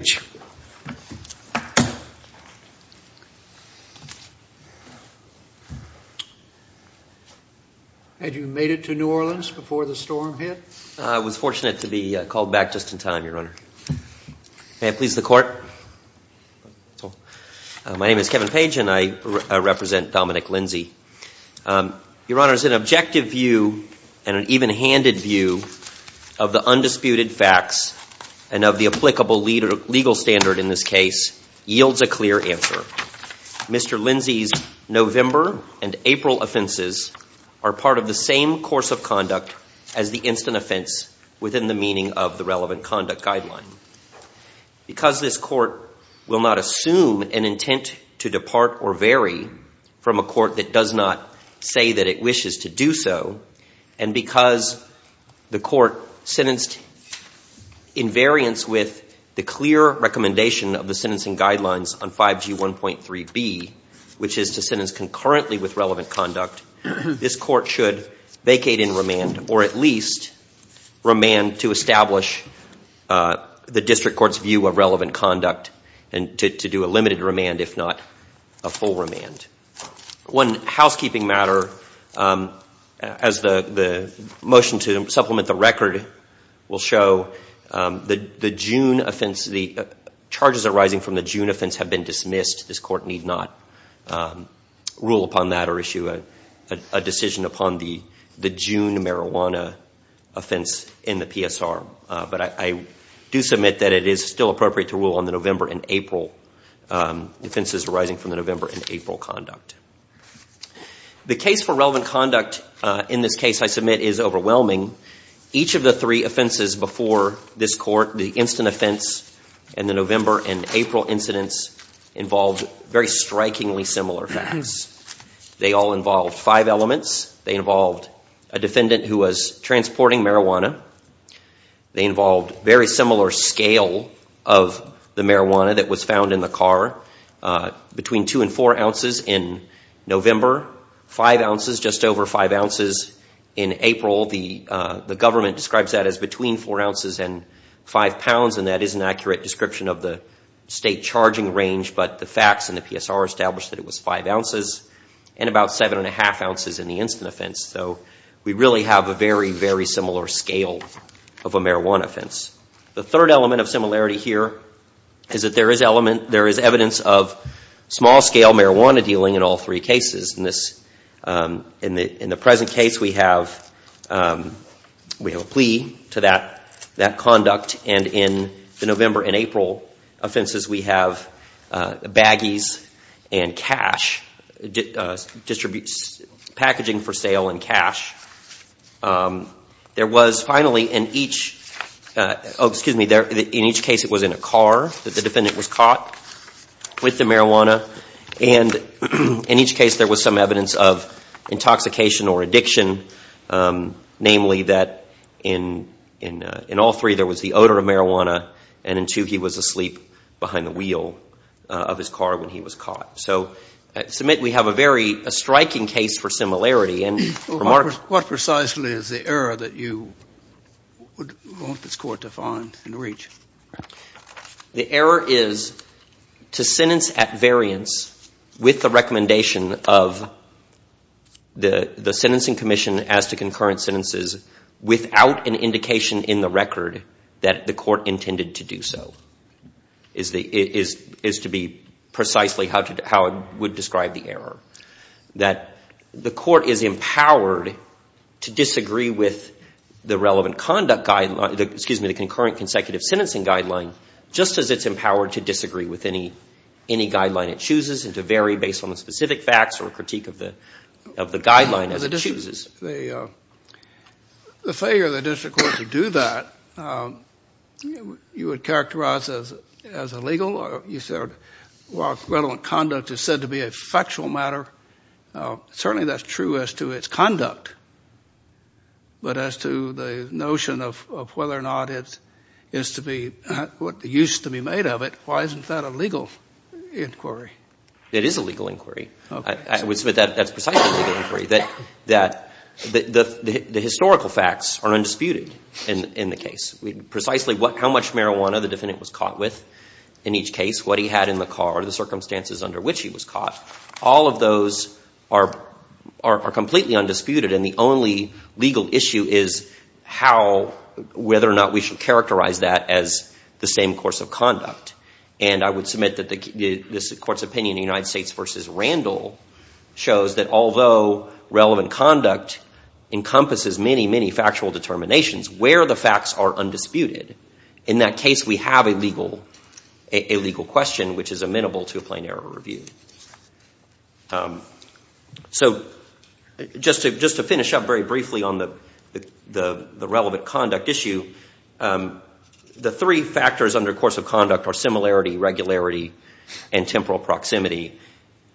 I was fortunate to be called back just in time, Your Honor. May I please the court? My name is Kevin Page and I represent Dominic Lindsey. Your Honor, as an objective view and an even-handed view of the undisputed facts and of the applicable legal standard in this case yields a clear answer. Mr. Lindsey's November and April offenses are part of the same course of conduct as the instant offense within the meaning of the relevant conduct guideline. Because this court will not assume an intent to depart or vary from a court that does not say that it wishes to do so, and because the court sentenced in variance with the clear recommendation of the sentencing guidelines on 5G 1.3b, which is to sentence concurrently with relevant conduct, this court should vacate in remand or at least remand to establish the district court's view of relevant conduct and to do a limited remand if not a full remand. One housekeeping matter, as the motion to supplement the record will show, the charges arising from the June offense have been dismissed. This court need not rule upon that or issue a decision upon the June marijuana offense in the PSR. But I do submit that it is still appropriate to rule on the November and April offenses arising from the November and April conduct. The case for relevant conduct in this case, I submit, is overwhelming. Each of the three offenses before this court, the instant offense and the November and April incidents, involved very strikingly similar facts. They all involved five elements. They involved very similar scale of the marijuana that was found in the car, between two and four ounces in November, five ounces, just over five ounces in April. The government describes that as between four ounces and five pounds, and that is an accurate description of the state charging range, but the facts in the PSR establish that it was five ounces and about seven and a half ounces in the instant offense. So we really have a very, very similar scale of a marijuana offense. The third element of similarity here is that there is evidence of small scale marijuana dealing in all three cases. In the present case we have a plea to that conduct, and in the November and April offenses we have baggies and cash, packaging for sale and cash. In each case it was in a car that the defendant was caught with the marijuana, and in each case there was some evidence of intoxication or addiction, namely that in all three there was the odor of marijuana, and in two he was asleep behind the wheel of his car when he was caught. So I submit we have a very striking case for similarity. What precisely is the error that you would want this Court to find and reach? The error is to sentence at variance with the recommendation of the Sentencing Commission as to concurrent sentences without an indication in the record that the Court intended to do so, is to be precisely how it would describe the error. That the Court is empowered to disagree with the relevant conduct guideline, excuse me, the concurrent consecutive sentencing guideline just as it's empowered to disagree with any guideline it chooses and to vary based on the specific facts or critique of the guideline as it chooses. The failure of the District Court to do that, you would characterize as illegal? You said while relevant conduct is said to be a factual matter, certainly that's true as to its conduct, but as to the notion of whether or not it is to be what used to be made of it, why isn't that a legal inquiry? It is a legal inquiry. I would submit that's precisely a legal inquiry. The historical facts are undisputed in the case. Precisely how much marijuana the defendant was caught with in each case, what he had in the car, the circumstances under which he was caught, all of those are completely undisputed and the only legal issue is how, whether or not we should characterize that as the same course of conduct. And I would submit that this Court's opinion in the United States v. Randall shows that although relevant conduct encompasses many, many factual determinations, where the facts are undisputed, in that case we have a legal question which is amenable to a plain error review. So just to finish up very briefly on the relevant conduct issue, the three factors under course of conduct are similarity, regularity, and temporal proximity.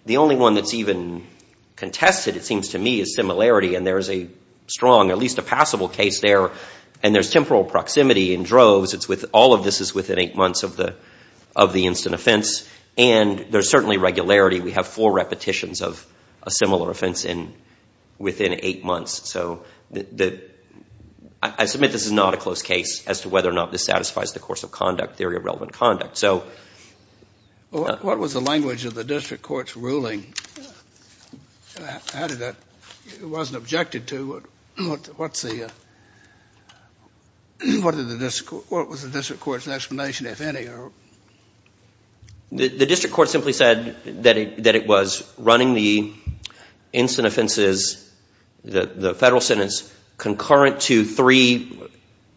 The only one that's even contested, it seems to me, is similarity. And there is a strong, at least a passable case there. And there's temporal proximity in droves. All of this is within eight months of the instant offense. And there's certainly regularity. We have four repetitions of a similar offense within eight months. So I submit this is not a close case as to whether or not this satisfies the course of conduct theory of relevant conduct. What was the language of the district court's ruling? It wasn't objected to. What was the district court's explanation, if any? The district court simply said that it was running the instant offenses, the federal concurrent to three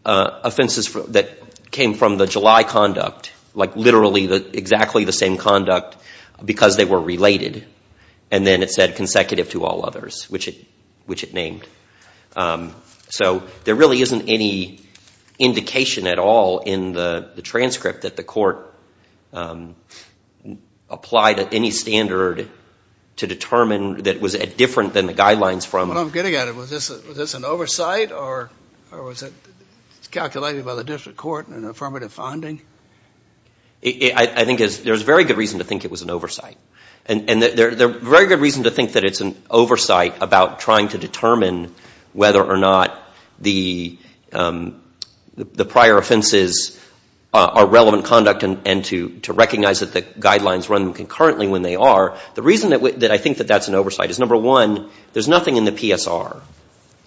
offenses that came from the July conduct, like literally exactly the same conduct because they were related. And then it said consecutive to all others, which it named. So there really isn't any indication at all in the transcript that the court applied at any standard to determine that it was different than the guidelines from Well, I'm getting at it. Was this an oversight or was it calculated by the district court in an affirmative finding? I think there's very good reason to think it was an oversight. And there's very good reason to think that it's an oversight about trying to determine whether or not the prior offenses are relevant conduct and to recognize that the guidelines run concurrently when they are. The reason that I think that that's an oversight is, number one, there's nothing in the PSR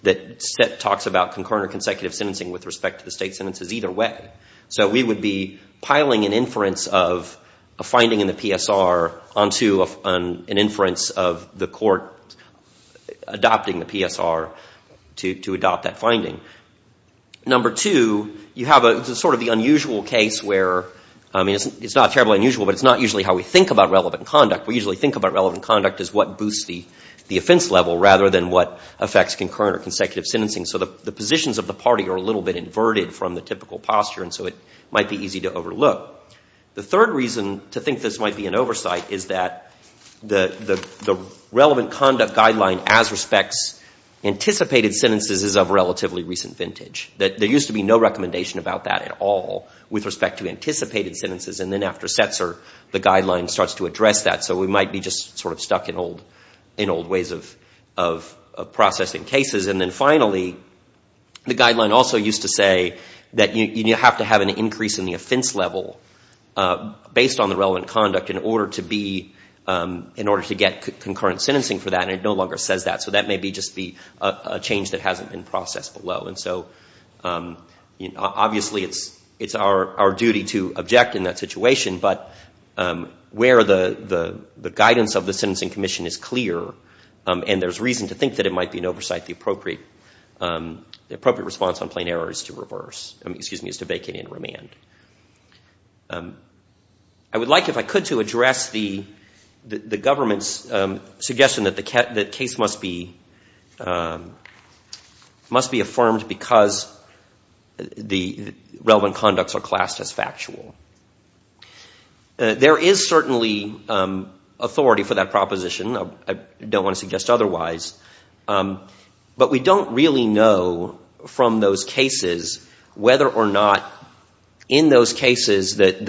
that talks about concurrent or consecutive sentencing with respect to the state sentences either way. So we would be piling an inference of a finding in the PSR onto an inference of the court adopting the PSR to adopt that finding. Number two, you have sort of the unusual case where, I mean, it's not terribly unusual, but it's not usually how we think about relevant conduct. We usually think about relevant conduct as what boosts the offense level rather than what affects concurrent or consecutive sentencing. So the positions of the party are a little bit inverted from the typical posture and so it might be easy to overlook. The third reason to think this might be an oversight is that the relevant conduct guideline as respects anticipated sentences is of relatively recent vintage. There used to be no recommendation about that at all with respect to anticipated sentences. And then after Setzer, the guideline starts to address that. So we might be just sort of stuck in old ways of processing cases. And then finally, the guideline also used to say that you have to have an increase in the offense level based on the relevant conduct in order to get concurrent sentencing for that and it no longer says that. So that may just be a change that hasn't been processed below. And so obviously it's our duty to object in that situation, but where the guidance of the Sentencing Commission is clear and there's reason to think that it might be an oversight, the appropriate response on plain error is to vacate and remand. I would like, if I could, to address the government's suggestion that the case must be effective and affirmed because the relevant conducts are classed as factual. There is certainly authority for that proposition. I don't want to suggest otherwise. But we don't really know from those cases whether or not in those cases that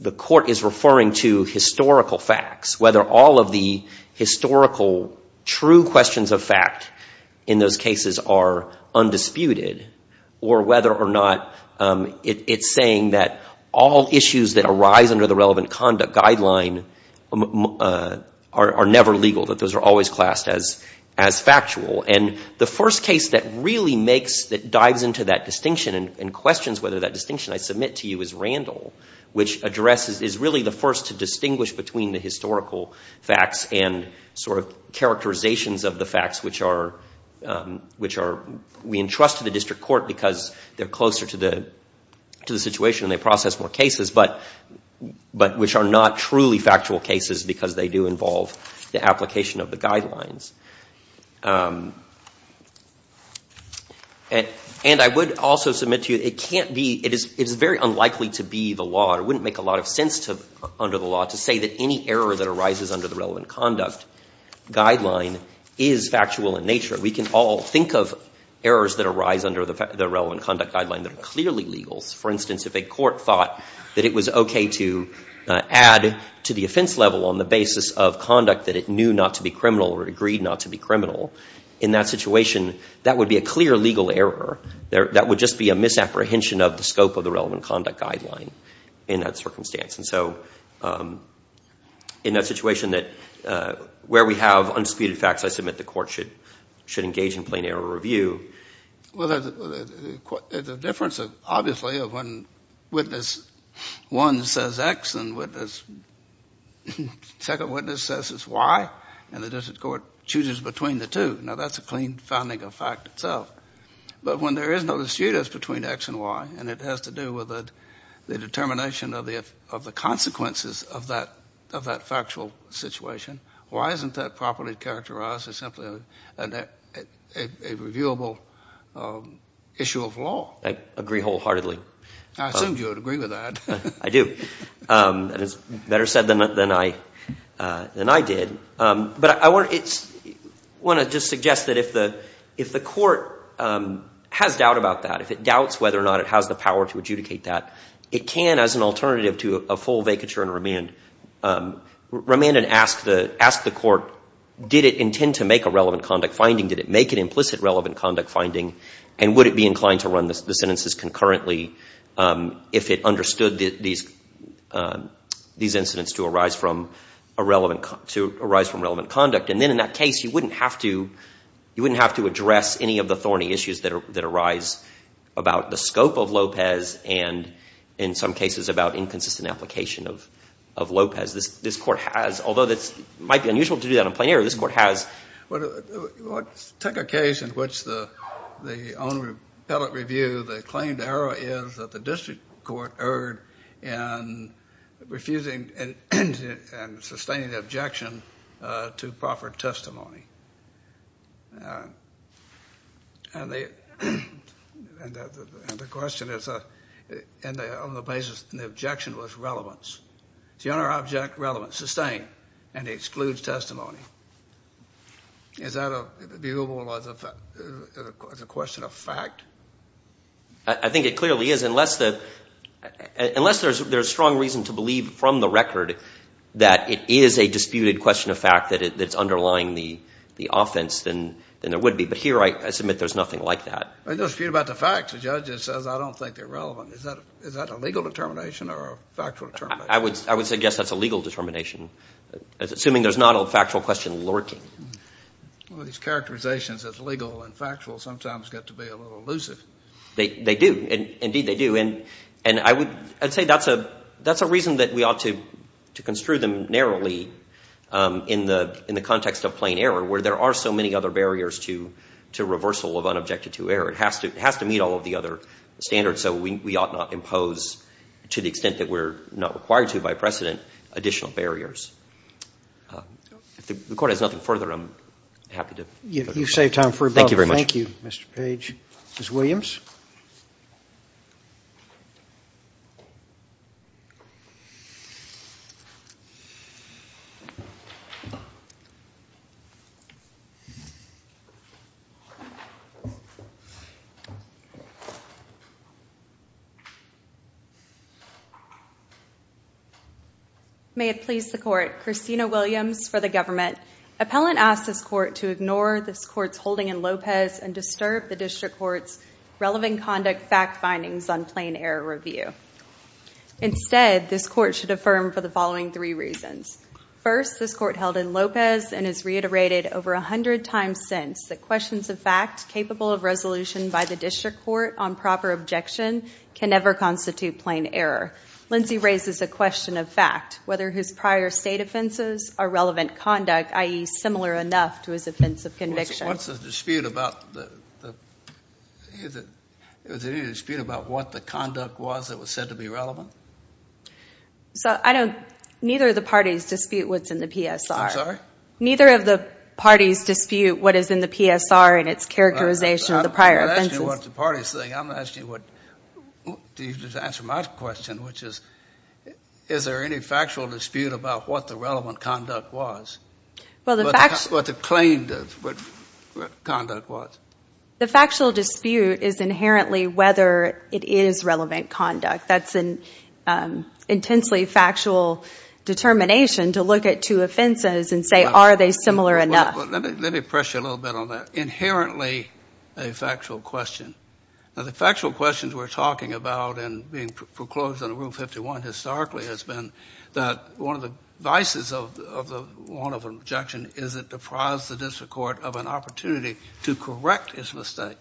the court is referring to historical facts that are undisputed or whether or not it's saying that all issues that arise under the relevant conduct guideline are never legal, that those are always classed as factual. And the first case that really makes, that dives into that distinction and questions whether that distinction I submit to you is Randall, which addresses, is really the first to distinguish between the historical facts and sort of characterizations of the facts which are, we entrust to the district court because they're closer to the situation and they process more cases, but which are not truly factual cases because they do involve the application of the guidelines. And I would also submit to you, it can't be, it is very unlikely to be the law, it wouldn't make a lot of sense under the law to say that any error that arises under the relevant conduct guideline is factual in nature. We can all think of errors that arise under the relevant conduct guideline that are clearly legal. For instance, if a court thought that it was okay to add to the offense level on the basis of conduct that it knew not to be criminal or agreed not to be criminal, in that situation that would be a clear legal error. That would just be a misapprehension of the scope of the relevant conduct guideline in that circumstance. And so, in that situation that, where we have unspecified facts, I submit the court should engage in plain error review. Well, the difference, obviously, of when witness one says X and witness, second witness says it's Y, and the district court chooses between the two. Now that's a clean finding of fact itself. But when there is no dispute as between X and Y, and it has to do with the determination of the consequences of that factual situation, why isn't that properly characterized as simply a reviewable issue of law? I agree wholeheartedly. I assumed you would agree with that. I do. And it's better said than I did. But I want to just suggest that if the court has doubt about that, if it doubts whether or not it has the power to adjudicate that, it can, as an alternative to a full vacature and remand, remand and ask the court, did it intend to make a relevant conduct finding? Did it make an implicit relevant conduct finding? And would it be inclined to run the sentences concurrently if it understood these incidents to arise from relevant conduct? And then, in that case, you wouldn't have to address any of the thorny issues that arise about the scope of Lopez and, in some cases, about inconsistent application of Lopez. This court has, although it might be unusual to do that in plain error, this court has. Take a case in which the only appellate review, the claimed error is that the district court erred in refusing and sustaining the objection to proffered testimony. And the question is, on the basis, the objection was relevance. Is the honor object relevant? Sustained. And it excludes testimony. Is that viewable as a question of fact? I think it clearly is, unless there's strong reason to believe from the record that it is a disputed question of fact that it's underlying the offense, then there would be. But here, I submit there's nothing like that. There's no dispute about the facts. The judge just says, I don't think they're relevant. Is that a legal determination or a factual determination? I would say, yes, that's a legal determination, assuming there's not a factual question lurking. Well, these characterizations as legal and factual sometimes get to be a little elusive. They do. Indeed, they do. And I would say that's a reason that we ought to construe them narrowly in the context of plain error, where there are so many other barriers to reversal of unobjected to error. It has to meet all of the other standards. So we ought not impose, to the extent that we're not required to by precedent, additional barriers. If the Court has nothing further, I'm happy to... You've saved time for about... Thank you very much. Thank you, Mr. Page. Ms. Williams? May it please the Court. Christina Williams for the government. Appellant asks this Court to ignore this Court's holding in Lopez and disturb the District Court's relevant conduct fact findings on plain error review. Instead, this Court should affirm for the following three reasons. First, this Court held in Lopez and has reiterated over a hundred times since that questions of fact capable of resolution by the District Court on proper objection can never constitute plain error. Lindsey raises a question of fact, whether his prior state offenses are relevant conduct, i.e., similar enough to his offense of conviction. What's the dispute about the... Is there any dispute about what the conduct was that was said to be relevant? So, I don't... Neither of the parties dispute what's in the PSR. I'm sorry? Neither of the parties dispute what is in the PSR and its characterization of the prior offenses. I'm not asking you what the parties think. I'm asking you what... To answer my question, which is, is there any factual dispute about what the relevant conduct was? Well, the fact... What the claim does, what conduct was. The factual dispute is inherently whether it is relevant conduct. That's an intensely factual determination to look at two offenses and say, are they similar enough? Let me press you a little bit on that. Inherently a factual question. Now, the factual questions we're talking about and being foreclosed on Rule 51 historically has been that one of the vices of the... One of the objections is it deprives the District Court of an opportunity to correct its mistake.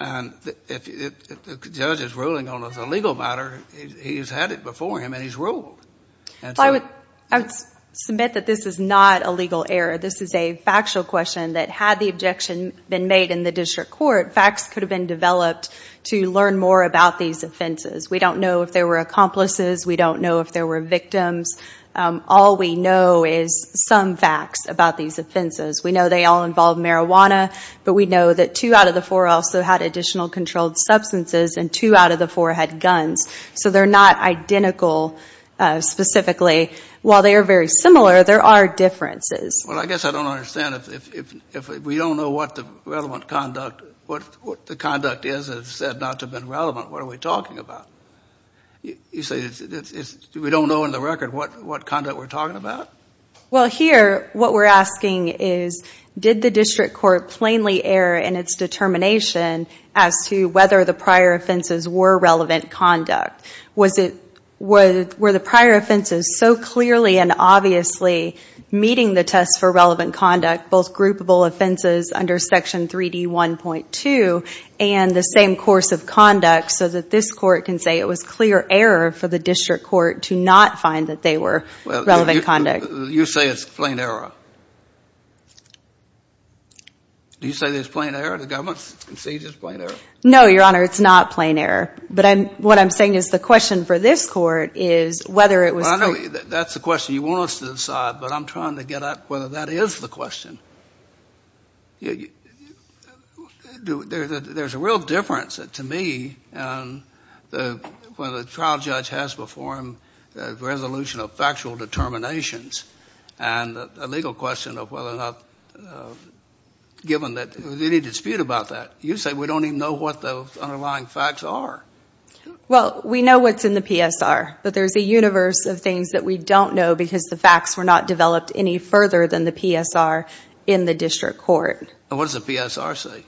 And if the judge is ruling on a legal matter, he's had it before him and he's ruled. I would submit that this is not a legal error. This is a factual question that had the objection been made in the District Court, facts could have been developed to learn more about these offenses. We don't know if there were accomplices. We don't know if there were victims. All we know is some facts about these offenses. We know they all involve marijuana, but we know that two out of the four also had additional controlled substances and two out of the four had guns. So they're not identical specifically. While they are very similar, there are differences. Well, I guess I don't understand. If we don't know what the relevant conduct... What the conduct is that is said not to have been relevant, what are we talking about? You say we don't know in the record what conduct we're talking about? Well, here what we're asking is, did the District Court plainly err in its determination as to whether the prior offenses were relevant conduct? Were the prior offenses so clearly and obviously meeting the test for relevant conduct, both groupable offenses under Section 3D1.2 and the same course of conduct, so that this Court can say it was clear error for the District Court to not find that they were relevant conduct? You say it's plain error. Do you say it's plain error, the government's conceded it's plain error? No, Your Honor, it's not plain error. But what I'm saying is the question for this Court is whether it was... Well, I know that's the question you want us to decide, but I'm trying to get at whether that is the question. There's a real difference to me when the trial judge has to decide whether to perform a resolution of factual determinations and a legal question of whether or not, given that there's any dispute about that. You say we don't even know what the underlying facts are. Well, we know what's in the PSR, but there's a universe of things that we don't know because the facts were not developed any further than the PSR in the District Court. And what does the PSR say?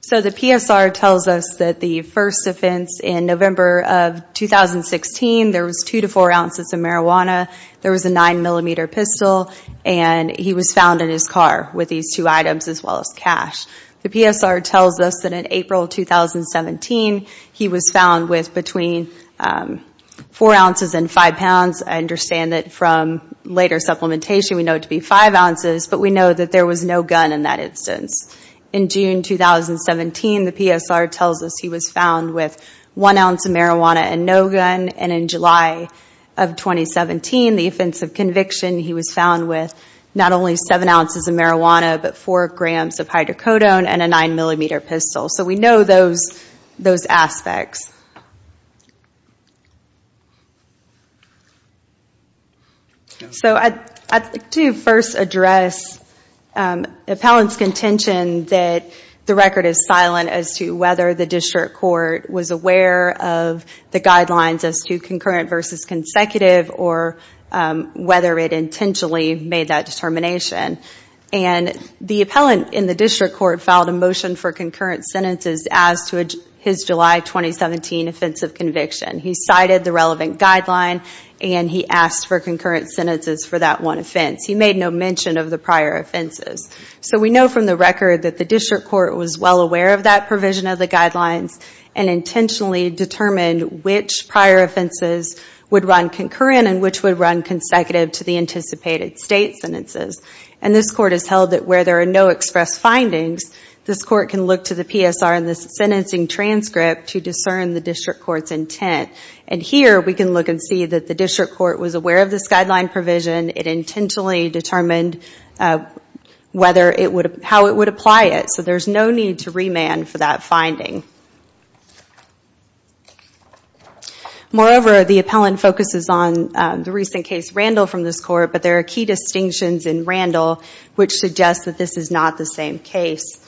So the PSR tells us that the first offense in November of 2016, there was 2 to 4 ounces of marijuana, there was a 9mm pistol, and he was found in his car with these two items as well as cash. The PSR tells us that in April 2017, he was found with between 4 ounces and 5 pounds. I understand that from later supplementation, we know it to be 5 ounces, but we know that there was no gun in that instance. In June 2017, the PSR tells us he was found with 1 ounce of marijuana and no gun. And in July of 2017, the offense of conviction, he was found with not only 7 ounces of marijuana, but 4 grams of hydrocodone and a 9mm pistol. So we know those aspects. So, I'd like to first address the appellant's contention that the record is silent as to whether the District Court was aware of the guidelines as to concurrent versus consecutive or whether it intentionally made that determination. And the appellant in the District Court filed a motion for concurrent sentences as to his July 2017 offense of conviction. He cited the relevant guideline and he asked for concurrent sentences for that one offense. He made no mention of the prior offenses. So we know from the record that the District Court was well aware of that provision of the guidelines and intentionally determined which prior offenses would run concurrent and which would run consecutive to the anticipated state sentences. And this court can look to the PSR in the sentencing transcript to discern the District Court's intent. And here we can look and see that the District Court was aware of this guideline provision. It intentionally determined how it would apply it. So there's no need to remand for that finding. Moreover, the appellant focuses on the recent case Randall from this court, but there are key distinctions in Randall which suggest that this is not the same case.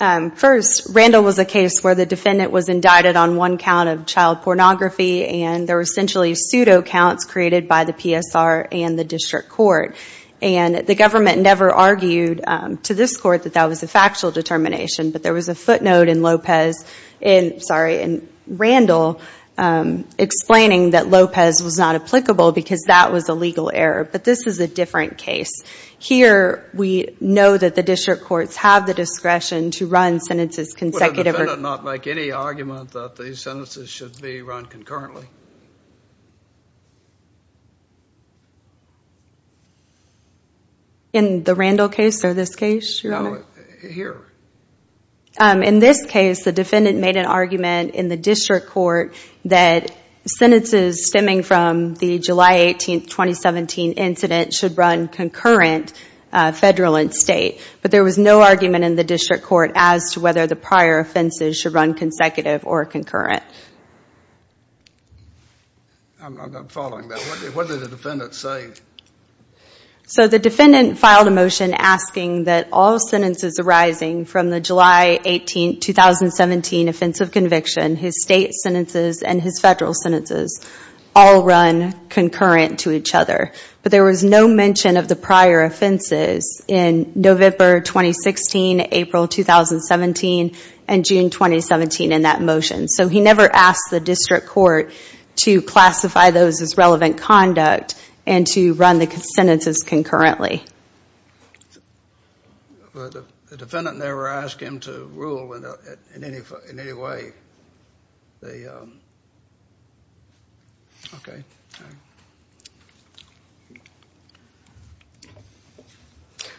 First, Randall was a case where the defendant was indicted on one count of child pornography and there were essentially pseudo counts created by the PSR and the District Court. And the government never argued to this court that that was a factual determination, but there was a footnote in Randall explaining that Lopez was not applicable because that was a legal error. But this was a different case. Here, we know that the District Courts have the discretion to run sentences consecutive. Would the defendant not make any argument that these sentences should be run concurrently? In the Randall case or this case, Your Honor? No, here. In this case, the defendant made an argument in the District Court that sentences stemming from the July 18, 2017 incident should run concurrent federal and state. But there was no argument in the District Court as to whether the prior offenses should run consecutive or concurrent. I'm following that. What did the defendant say? So the defendant filed a motion asking that all sentences arising from the July 18, 2017 offensive conviction, his state sentences and his federal sentences, all run concurrent to each other. But there was no mention of the prior offenses in November 2016, April 2017, and June 2017 in that motion. So he never asked the District Court to classify those as relevant conduct and to run the sentences concurrently. The defendant never asked him to rule in any way.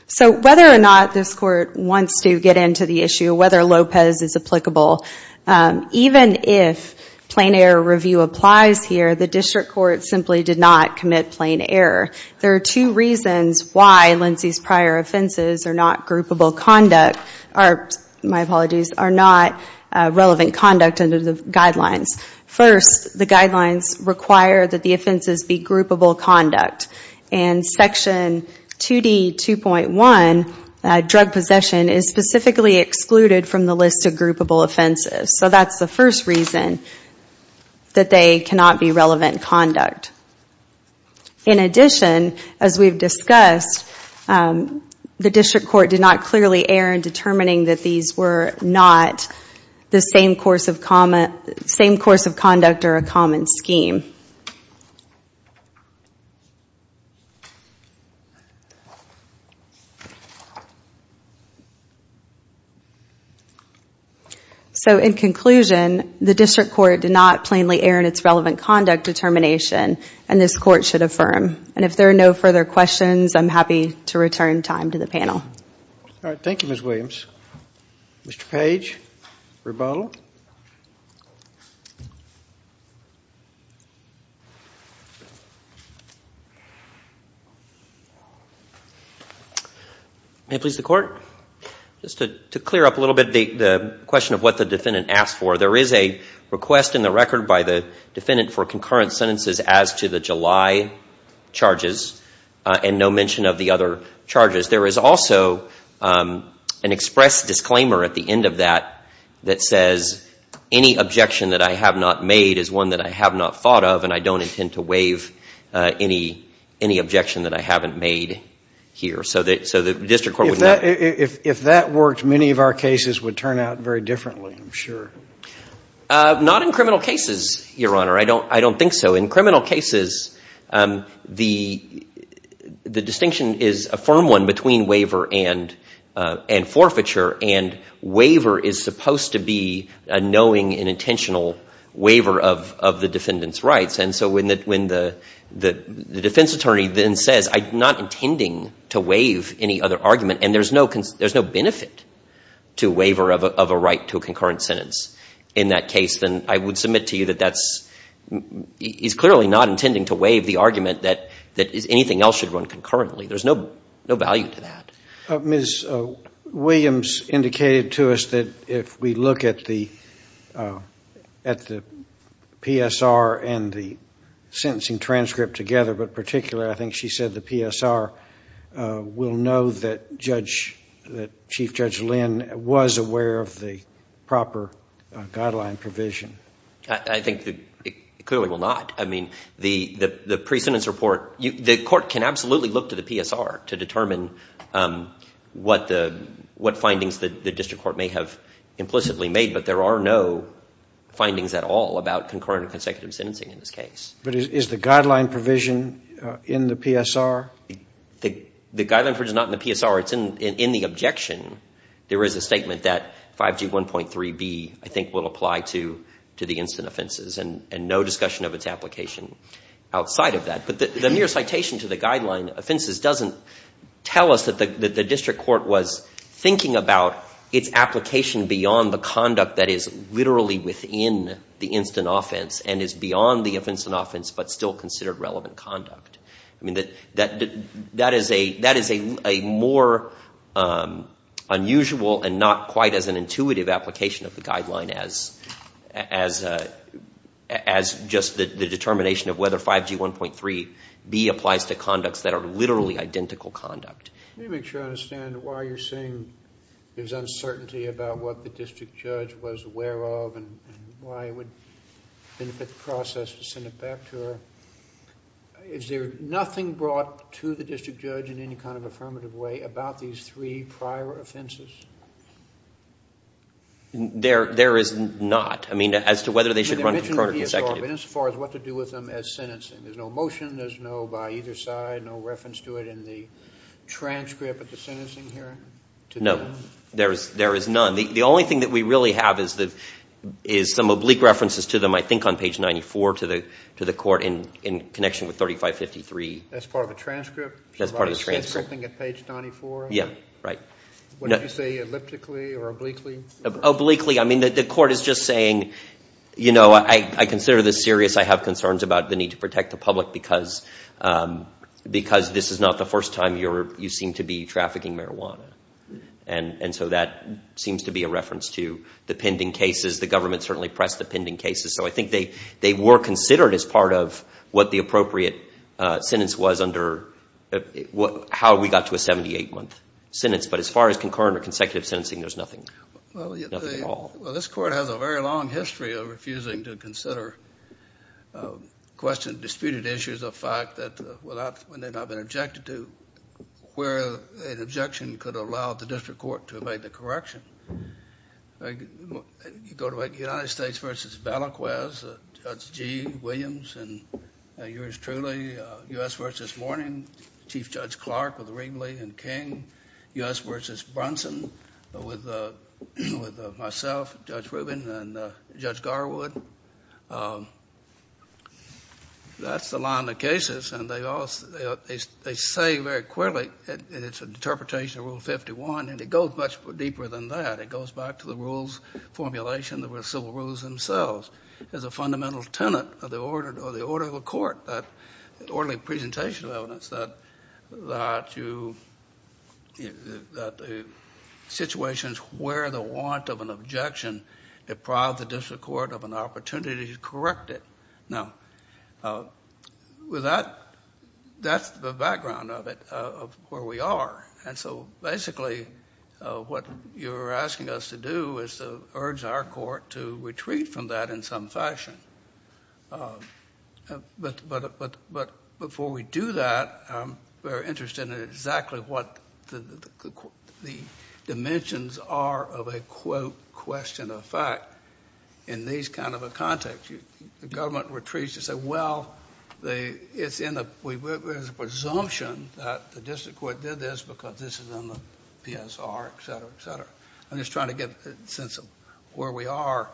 So whether or not this Court wants to get into the issue, whether Lopez is applicable, even if plain error review applies here, the District Court simply did not commit plain error. There are two reasons why Lindsay's prior offenses are not relevant conduct under the guidelines. First, the guidelines require that the offenses be groupable conduct. And Section 2D.2.1, Drug Possession, is specifically excluded from the list of groupable offenses. So that's the first reason that they cannot be relevant conduct. In addition, as we've discussed, the District Court did not clearly err in determining that these were not the same course of conduct or a common scheme. So, in conclusion, the District Court did not plainly err in its relevant conduct determination and this Court should affirm. And if there are no further questions, I'm happy to return time to the panel. Thank you, Ms. Williams. Mr. Page, rebuttal. May it please the Court? Just to clear up a little bit the question of what the defendant asked for. There is a request in the record by the defendant for concurrent sentences as to the July charges and no mention of the other charges. There is also an express disclaimer at the end of that that says, any objection that I have not made is one that I have not thought of and I don't intend to waive any objection that I haven't made here. If that worked, many of our cases would turn out very differently, I'm sure. Not in criminal cases, Your Honor. I don't think so. In criminal cases, the distinction is a firm one between waiver and forfeiture and waiver is supposed to be a knowing and conscious right. And so when the defense attorney then says, I'm not intending to waive any other argument and there's no benefit to a waiver of a right to a concurrent sentence in that case, then I would submit to you that that's, he's clearly not intending to waive the argument that anything else should run concurrently. There's no value to that. Ms. Williams indicated to us that if we look at the PSR and the statute of limitations and the sentencing transcript together, but particularly I think she said the PSR, we'll know that Chief Judge Lynn was aware of the proper guideline provision. I think that it clearly will not. I mean, the pre-sentence report, the court can absolutely look to the PSR to determine what findings the district court may have implicitly made, but there are no findings at all about concurrent or consecutive sentencing in this case. Is the guideline provision in the PSR? The guideline provision is not in the PSR. It's in the objection. There is a statement that 5G 1.3b, I think, will apply to the instant offenses and no discussion of its application outside of that. But the mere citation to the guideline offenses doesn't tell us that the district court was thinking about its application beyond the conduct that is literally within the instant offense and is beyond the instant offense but still considered relevant conduct. I mean, that is a more unusual and not quite as an intuitive application of the guideline as just the determination of whether 5G 1.3b applies to conducts that are literally identical conduct. Let me make sure I understand why you're saying there's uncertainty about what the district judge was aware of and why it would benefit the process to send it back to her. Is there nothing brought to the district judge in any kind of affirmative way about these three prior offenses? There is not. I mean, as to whether they should run concurrent or consecutive. As far as what to do with them as sentencing. There's no motion, there's no by either side, no reference to it in the transcript of the sentencing hearing? No, there is none. The only thing that we really have is some oblique references to them I think on page 94 to the court in connection with 3553. That's part of the transcript? That's part of the transcript. So it's scripting at page 94? Yeah, right. What did you say, elliptically or obliquely? Obliquely. I mean, the court is just saying, you know, I consider this serious. I have because this is not the first time you seem to be trafficking marijuana. And so that seems to be a reference to the pending cases. The government certainly pressed the pending cases. So I think they were considered as part of what the appropriate sentence was under how we got to a 78-month sentence. But as far as concurrent or consecutive sentencing, there's nothing at all. Well, this court has a very long history of refusing to consider questions, disputed issues of fact that have not been objected to, where an objection could allow the district court to evade the correction. You go to United States v. Balaquez, Judge G. Williams and yours truly, U.S. v. Morning, Chief Judge Clark with Ringley and King, U.S. v. Brunson with myself, Judge Rubin, and Judge Garwood. That's the line of cases. And they say very clearly it's an interpretation of Rule 51. And it goes much deeper than that. It goes back to the rules formulation. There were civil rules themselves. As a fundamental tenet of the court, the order of the court, that orderly presentation of evidence, that the situations where the want of an objection deprive the district court of an opportunity to correct it. Now, with that, that's the background of it, of where we are. And so basically what you're asking us to do is to urge our court to retreat from that in some fashion. But before we do that, I'm very interested in exactly what the dimensions are of a, quote, question of fact in these kind of a context. The government retreats to say, well, it's in the presumption that the district court did this because this is on the PSR, et cetera, et cetera. I'm just trying to get a sense of where we are.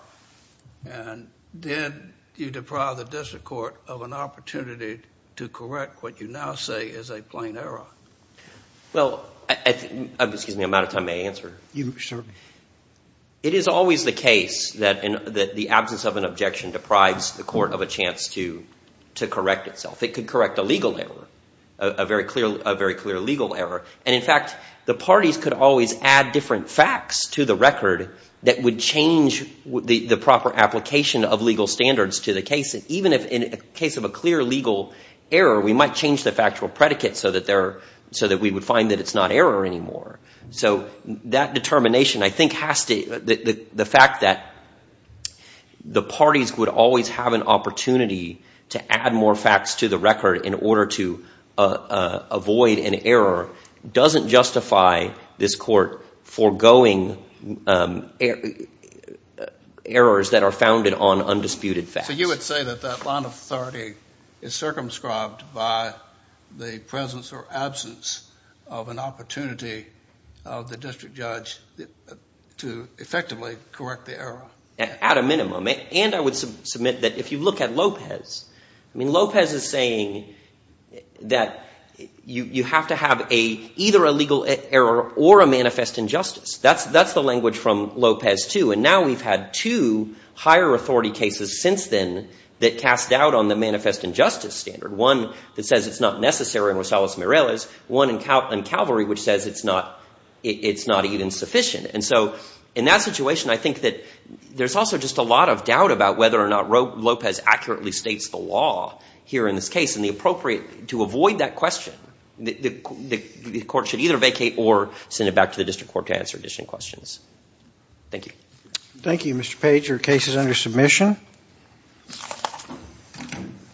And did you deprive the district court of an opportunity to correct what you now say is a plain error? Well, excuse me, I'm out of time. May I answer? It is always the case that the absence of an objection deprives the court of a chance to correct itself. It could correct a legal error, a very clear legal error. And in fact, the parties could always add different facts to the record that would change the proper application of legal standards to the case. Even if in the case of a clear legal error, we might change the factual predicate so that we would find that it's not error anymore. So that determination, I think, has to, the fact that the parties would always have an opportunity to add more facts to the record in order to avoid an error doesn't justify this court foregoing errors that are founded on undisputed facts. So you would say that that line of authority is circumscribed by the presence or absence of an opportunity of the district judge to effectively correct the error? At a minimum. And I would submit that if you look at Lopez, I mean, Lopez is saying that you have to have either a legal error or a manifest injustice. That's the language from Lopez too. And now we've had two higher authority cases since then that cast doubt on the manifest injustice standard. One that says it's not necessary in Rosales-Mireles, one in Calvary which says it's not even sufficient. And so in that situation, I think that there's also just a lot of doubt about whether or not Lopez accurately states the law here in this case. And to avoid that question, the court should either vacate or send it back to the district court to answer additional questions. Thank you. Thank you, Mr. Page. Your case is under submission.